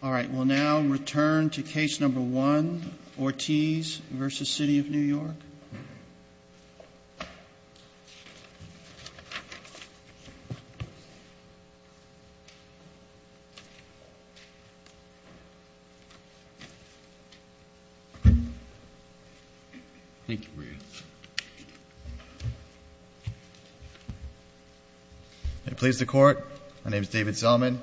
All right, we'll now return to case number one, Ortiz v. City of New York. It pleases the Court, my name is David Zellman.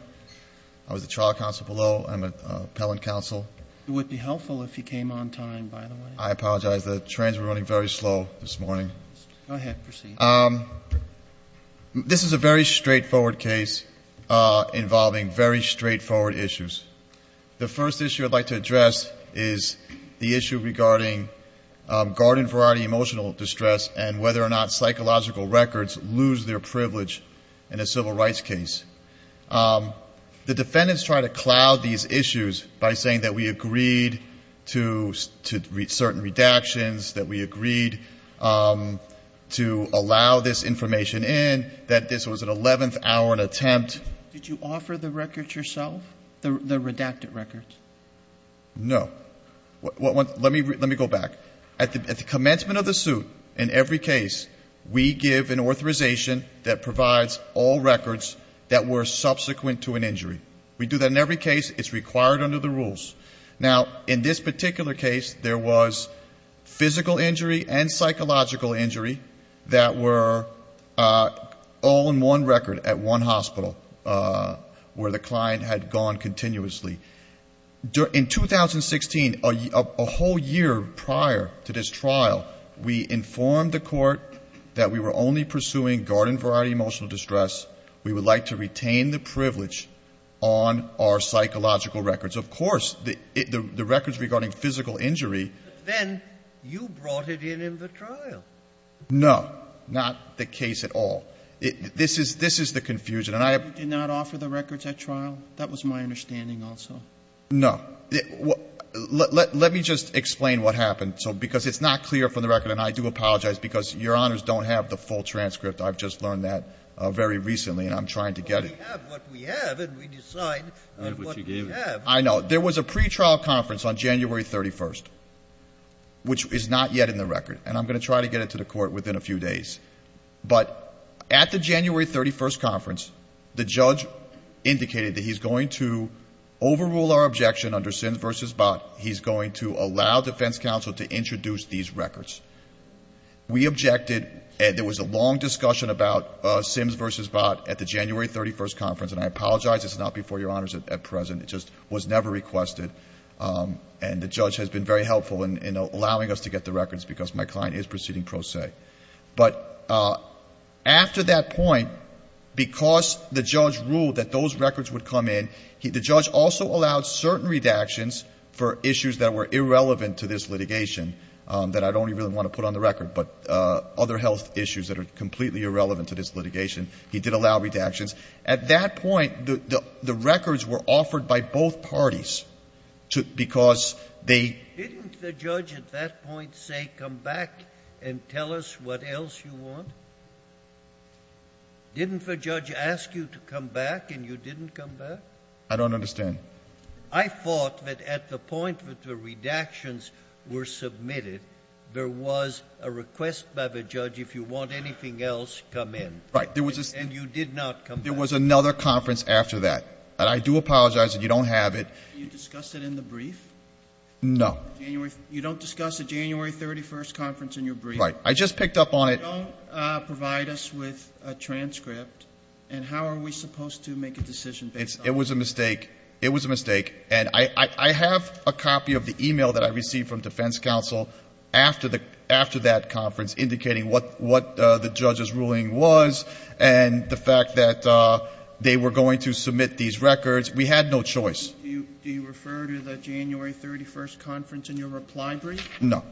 I was the trial counsel below. I'm an appellant counsel. It would be helpful if you came on time, by the way. I apologize, the trains were running very slow this morning. Go ahead, proceed. This is a very straightforward case involving very straightforward issues. The first issue I'd like to address is the issue regarding garden variety emotional distress and whether or not psychological records lose their privilege in a civil rights case. The defendants try to cloud these issues by saying that we agreed to certain redactions, that we agreed to allow this information in, that this was an 11th hour attempt. Did you offer the records yourself, the redacted records? No. Let me go back. At the commencement of the suit, in every case, we give an authorization that provides all records that were subsequent to an injury. We do that in every case. It's required under the rules. Now, in this particular case, there was physical injury and psychological injury that were all in one record at one hospital where the client had gone continuously. In 2016, a whole year prior to this trial, we informed the Court that we were only pursuing garden variety emotional distress. We would like to retain the privilege on our psychological records. Of course, the records regarding physical injury. Then you brought it in in the trial. No. Not the case at all. This is the confusion. You did not offer the records at trial? That was my understanding also. No. Let me just explain what happened, because it's not clear from the record, and I do apologize because Your Honors don't have the full transcript. I've just learned that very recently, and I'm trying to get it. But we have what we have, and we decide on what we have. I know. There was a pretrial conference on January 31st, which is not yet in the record, and I'm going to try to get it to the Court within a few days. But at the January 31st conference, the judge indicated that he's going to overrule our objection under Sims v. Bott. He's going to allow defense counsel to introduce these records. We objected. There was a long discussion about Sims v. Bott at the January 31st conference, and I apologize this is not before Your Honors at present. It just was never requested. And the judge has been very helpful in allowing us to get the records because my client is proceeding pro se. But after that point, because the judge ruled that those records would come in, the judge also allowed certain redactions for issues that were irrelevant to this litigation that I don't even want to put on the record, but other health issues that are completely irrelevant to this litigation, he did allow redactions. At that point, the records were offered by both parties because they — Didn't the judge at that point say, come back and tell us what else you want? Didn't the judge ask you to come back and you didn't come back? I don't understand. I thought that at the point that the redactions were submitted, there was a request by the judge, if you want anything else, come in. And you did not come back. There was another conference after that. And I do apologize that you don't have it. Did you discuss it in the brief? No. You don't discuss a January 31st conference in your brief? Right. I just picked up on it. You don't provide us with a transcript. And how are we supposed to make a decision based on that? It was a mistake. It was a mistake. And I have a copy of the e-mail that I received from defense counsel after that conference indicating what the judge's ruling was and the fact that they were going to submit these records. We had no choice. Do you refer to the January 31st conference in your reply brief? No.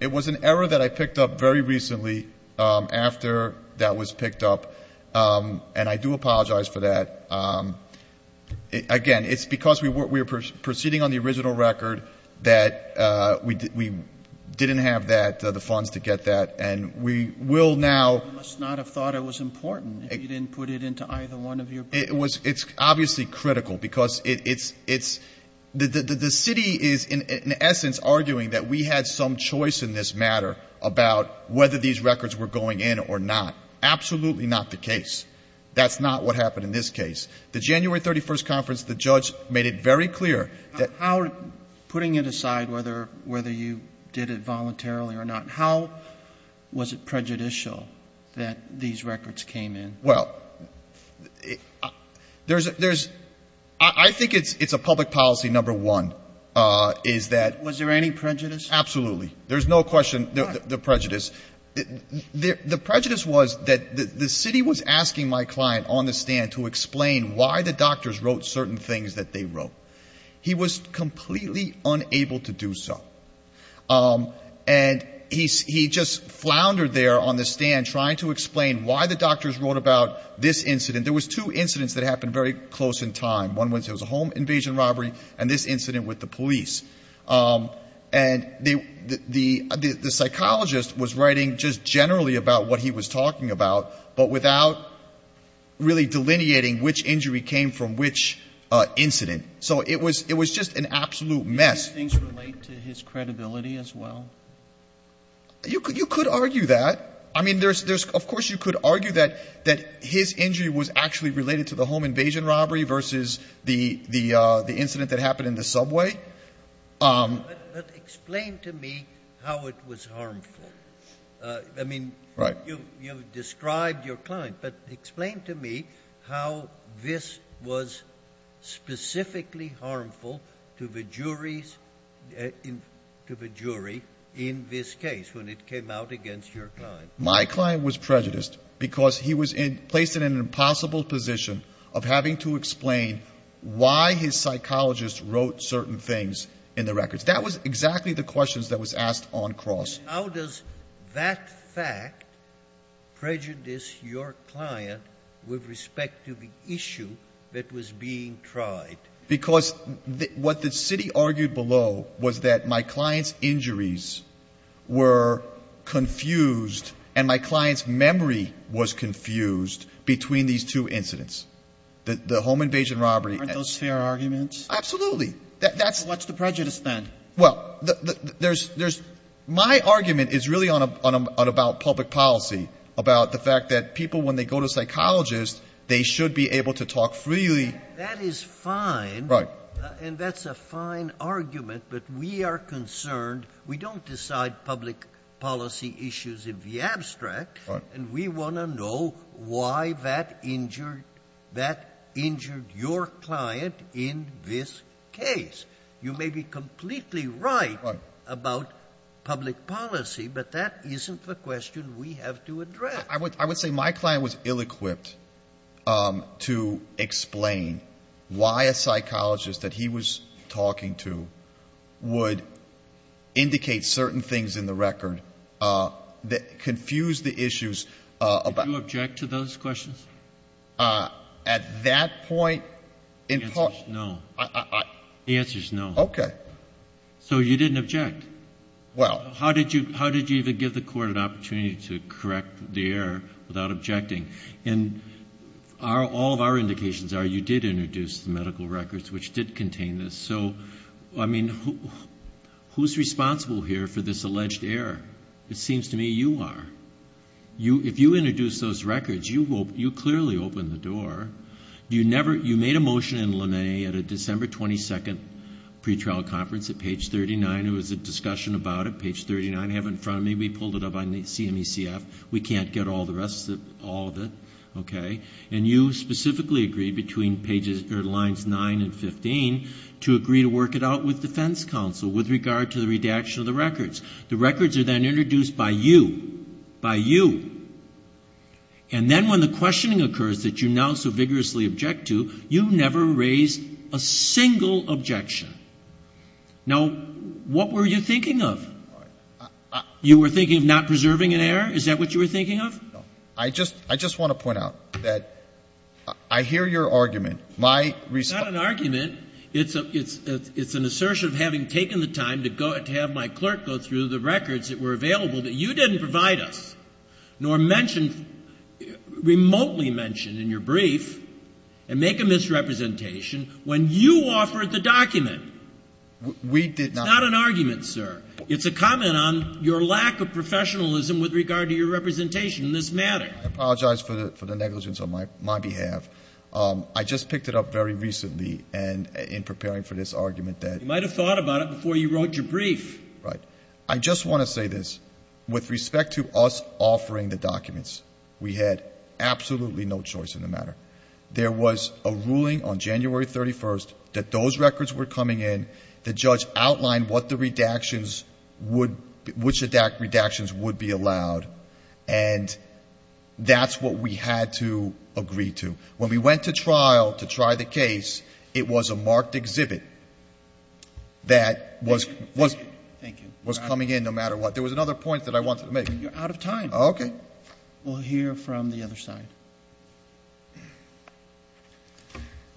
It was an error that I picked up very recently after that was picked up. And I do apologize for that. Again, it's because we were proceeding on the original record that we didn't have that, the funds to get that. And we will now ---- You must not have thought it was important if you didn't put it into either one of your briefs. It's obviously critical because it's the city is in essence arguing that we had some choice in this matter about whether these records were going in or not. Absolutely not the case. That's not what happened in this case. The January 31st conference, the judge made it very clear that ---- How was it prejudicial that these records came in? Well, there's ---- I think it's a public policy, number one, is that ---- Was there any prejudice? Absolutely. There's no question there's prejudice. The prejudice was that the city was asking my client on the stand to explain why the doctors wrote certain things that they wrote. He was completely unable to do so. And he just floundered there on the stand trying to explain why the doctors wrote about this incident. There was two incidents that happened very close in time. One was a home invasion robbery and this incident with the police. And the psychologist was writing just generally about what he was talking about, but without really delineating which injury came from which incident. So it was just an absolute mess. Do these things relate to his credibility as well? You could argue that. I mean, there's of course you could argue that his injury was actually related to the home invasion robbery versus the incident that happened in the subway. But explain to me how it was harmful. I mean, you've described your client. But explain to me how this was specifically harmful to the jury in this case when it came out against your client. My client was prejudiced because he was placed in an impossible position of having to explain why his psychologist wrote certain things in the records. That was exactly the questions that was asked on cross. How does that fact prejudice your client with respect to the issue that was being tried? Because what the city argued below was that my client's injuries were confused and my client's memory was confused between these two incidents, the home invasion robbery. Aren't those fair arguments? Absolutely. What's the prejudice then? Well, there's my argument is really about public policy, about the fact that people, when they go to a psychologist, they should be able to talk freely. That is fine. Right. And that's a fine argument. But we are concerned. We don't decide public policy issues in the abstract. Right. And we want to know why that injured your client in this case. You may be completely right about public policy, but that isn't the question we have to address. I would say my client was ill-equipped to explain why a psychologist that he was talking to would indicate certain things in the record that confused the issues. Do you object to those questions? At that point in time. The answer is no. The answer is no. Okay. So you didn't object. Well. How did you even give the Court an opportunity to correct the error without objecting? And all of our indications are you did introduce the medical records, which did contain this. So, I mean, who's responsible here for this alleged error? It seems to me you are. If you introduced those records, you clearly opened the door. You made a motion in LeMay at a December 22nd pretrial conference at page 39. There was a discussion about it. Page 39. I have it in front of me. We pulled it up on CMECF. We can't get all of it. Okay. And you specifically agreed between lines 9 and 15 to agree to work it out with defense counsel with regard to the redaction of the records. The records are then introduced by you. By you. And then when the questioning occurs that you now so vigorously object to, you never raised a single objection. Now, what were you thinking of? You were thinking of not preserving an error? Is that what you were thinking of? No. I just want to point out that I hear your argument. My response. It's not an argument. It's an assertion of having taken the time to have my clerk go through the records that were available that you didn't provide us, nor mention, remotely mention in your brief and make a misrepresentation when you offered the document. We did not. It's not an argument, sir. It's a comment on your lack of professionalism with regard to your representation in this matter. I apologize for the negligence on my behalf. I just picked it up very recently in preparing for this argument that. You might have thought about it before you wrote your brief. Right. I just want to say this. With respect to us offering the documents, we had absolutely no choice in the matter. There was a ruling on January 31st that those records were coming in. The judge outlined what the redactions would be allowed, and that's what we had to agree to. When we went to trial to try the case, it was a marked exhibit that was coming in no matter what. There was another point that I wanted to make. You're out of time. Okay. We'll hear from the other side.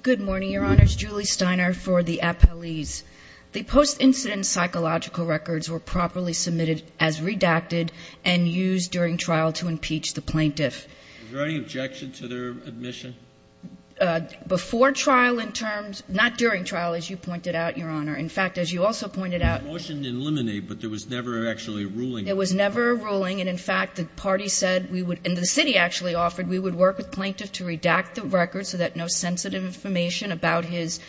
Good morning, Your Honors. Julie Steiner for the appellees. The post-incident psychological records were properly submitted as redacted and used during trial to impeach the plaintiff. Is there any objection to their admission? Before trial in terms of – not during trial, as you pointed out, Your Honor. In fact, as you also pointed out – The motion didn't eliminate, but there was never actually a ruling. There was never a ruling. And, in fact, the party said we would – and the city actually offered we would work with the plaintiff to redact the records so that no sensitive information about his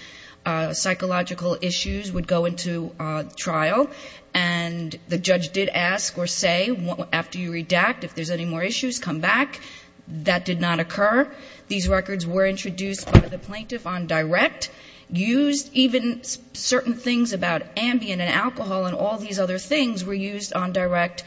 psychological issues would go into trial. And the judge did ask or say, after you redact, if there's any more issues, come back. That did not occur. These records were introduced by the plaintiff on direct, used. Even certain things about Ambien and alcohol and all these other things were used on direct.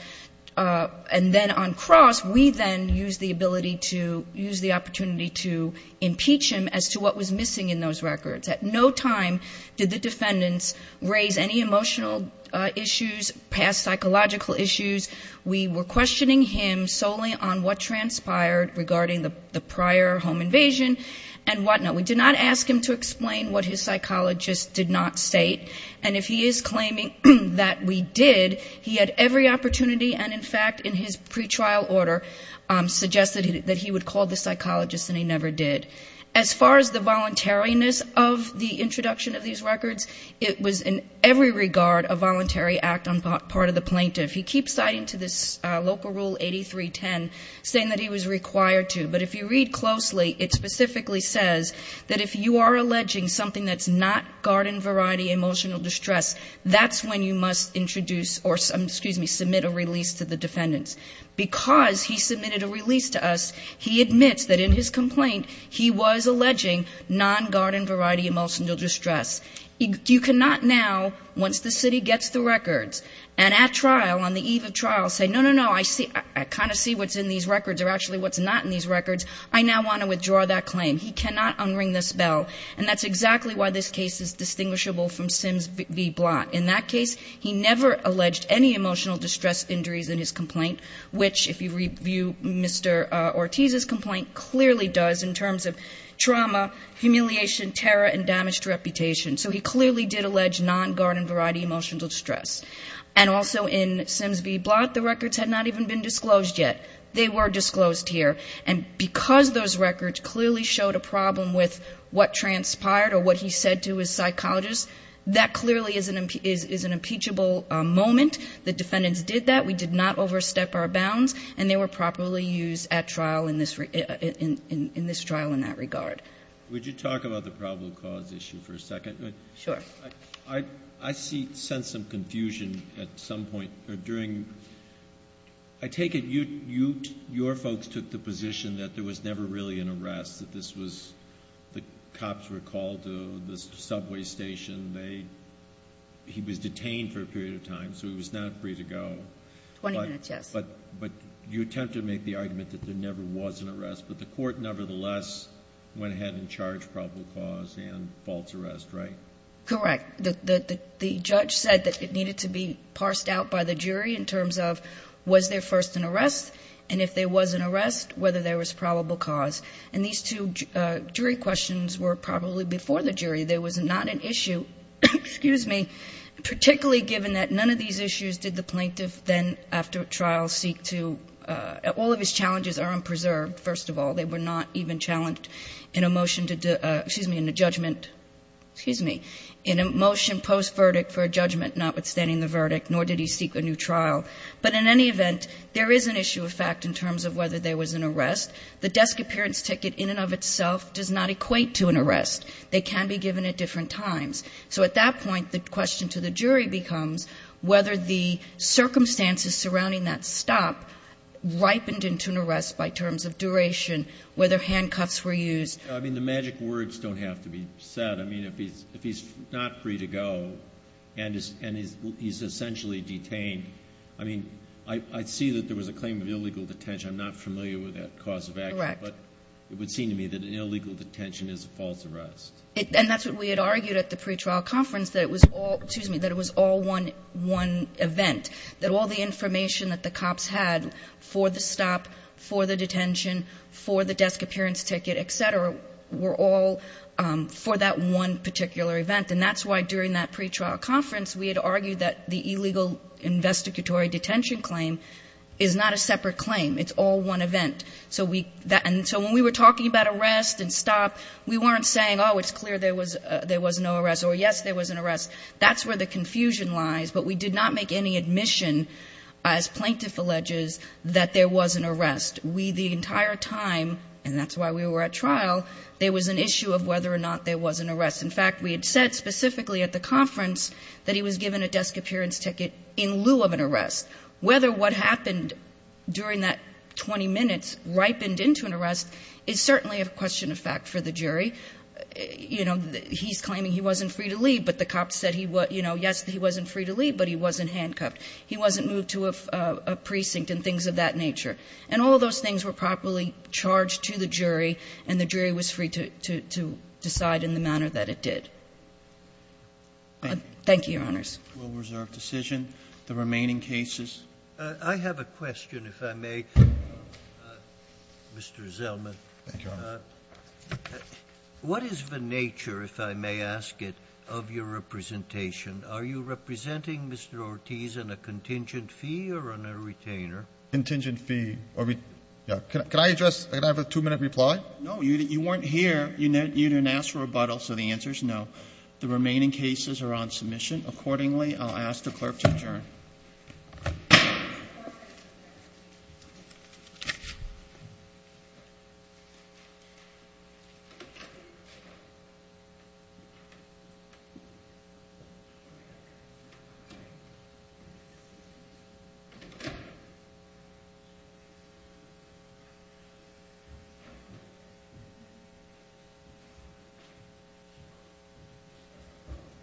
And then on cross, we then used the ability to – used the opportunity to impeach him as to what was missing in those records. At no time did the defendants raise any emotional issues, past psychological issues. We were questioning him solely on what transpired regarding the prior home invasion and whatnot. We did not ask him to explain what his psychologist did not state. And if he is claiming that we did, he had every opportunity, and, in fact, in his pretrial order, suggested that he would call the psychologist, and he never did. As far as the voluntariness of the introduction of these records, it was in every regard a voluntary act on part of the plaintiff. He keeps citing to this local rule 8310, saying that he was required to. But if you read closely, it specifically says that if you are alleging something that's not garden variety emotional distress, that's when you must introduce or, excuse me, submit a release to the defendants. Because he submitted a release to us, he admits that in his complaint he was alleging non-garden variety emotional distress. You cannot now, once the city gets the records, and at trial, on the eve of trial, say, no, no, no, I kind of see what's in these records or actually what's not in these records. I now want to withdraw that claim. He cannot un-ring this bell, and that's exactly why this case is distinguishable from Sims v. Blount. In that case, he never alleged any emotional distress injuries in his complaint, which, if you review Mr. Ortiz's complaint, clearly does in terms of trauma, humiliation, terror, and damaged reputation. So he clearly did allege non-garden variety emotional distress. And also in Sims v. Blount, the records had not even been disclosed yet. They were disclosed here. And because those records clearly showed a problem with what transpired or what he said to his psychologist, that clearly is an impeachable moment. The defendants did that. We did not overstep our bounds. And they were properly used at trial in this trial in that regard. Would you talk about the probable cause issue for a second? Sure. I sense some confusion at some point. I sense that this was the cops were called to the subway station. They he was detained for a period of time, so he was not free to go. Twenty minutes, yes. But you attempt to make the argument that there never was an arrest, but the court, nevertheless, went ahead and charged probable cause and false arrest, right? Correct. The judge said that it needed to be parsed out by the jury in terms of was there first an arrest, and if there was an arrest, whether there was probable cause. And these two jury questions were probably before the jury. There was not an issue, excuse me, particularly given that none of these issues did the plaintiff then after trial seek to all of his challenges are unpreserved. First of all, they were not even challenged in a motion to excuse me in the judgment. Excuse me. In a motion post verdict for a judgment, notwithstanding the verdict, nor did he seek a new trial. But in any event, there is an issue of fact in terms of whether there was an arrest. The desk appearance ticket in and of itself does not equate to an arrest. They can be given at different times. So at that point, the question to the jury becomes whether the circumstances surrounding that stop ripened into an arrest by terms of duration, whether handcuffs were used. I mean, the magic words don't have to be said. I mean, if he's not free to go and he's essentially detained, I mean, I see that there was a claim of illegal detention. I'm not familiar with that cause of act. But it would seem to me that an illegal detention is a false arrest. And that's what we had argued at the pretrial conference. That it was all, excuse me, that it was all one, one event, that all the information that the cops had for the stop, for the detention, for the desk appearance ticket, et cetera, were all for that one particular event. And that's why during that pretrial conference, we had argued that the illegal investigatory detention claim is not a separate claim. It's all one event. And so when we were talking about arrest and stop, we weren't saying, oh, it's clear there was no arrest, or yes, there was an arrest. That's where the confusion lies. But we did not make any admission, as plaintiff alleges, that there was an arrest. We, the entire time, and that's why we were at trial, there was an issue of whether or not there was an arrest. In fact, we had said specifically at the conference that he was given a desk appearance ticket in lieu of an arrest. Whether what happened during that 20 minutes ripened into an arrest is certainly a question of fact for the jury. You know, he's claiming he wasn't free to leave, but the cops said he was, you know, yes, he wasn't free to leave, but he wasn't handcuffed. He wasn't moved to a precinct and things of that nature. And all of those things were properly charged to the jury, and the jury was free to decide in the manner that it did. Thank you, Your Honors. The case will reserve decision. The remaining cases? I have a question, if I may, Mr. Zellman. Thank you, Your Honor. What is the nature, if I may ask it, of your representation? Are you representing Mr. Ortiz on a contingent fee or on a retainer? Contingent fee. Can I address? Can I have a two-minute reply? No. You weren't here. You didn't ask for rebuttal, so the answer is no. The remaining cases are on submission. Accordingly, I'll ask the clerk to adjourn. Thank you.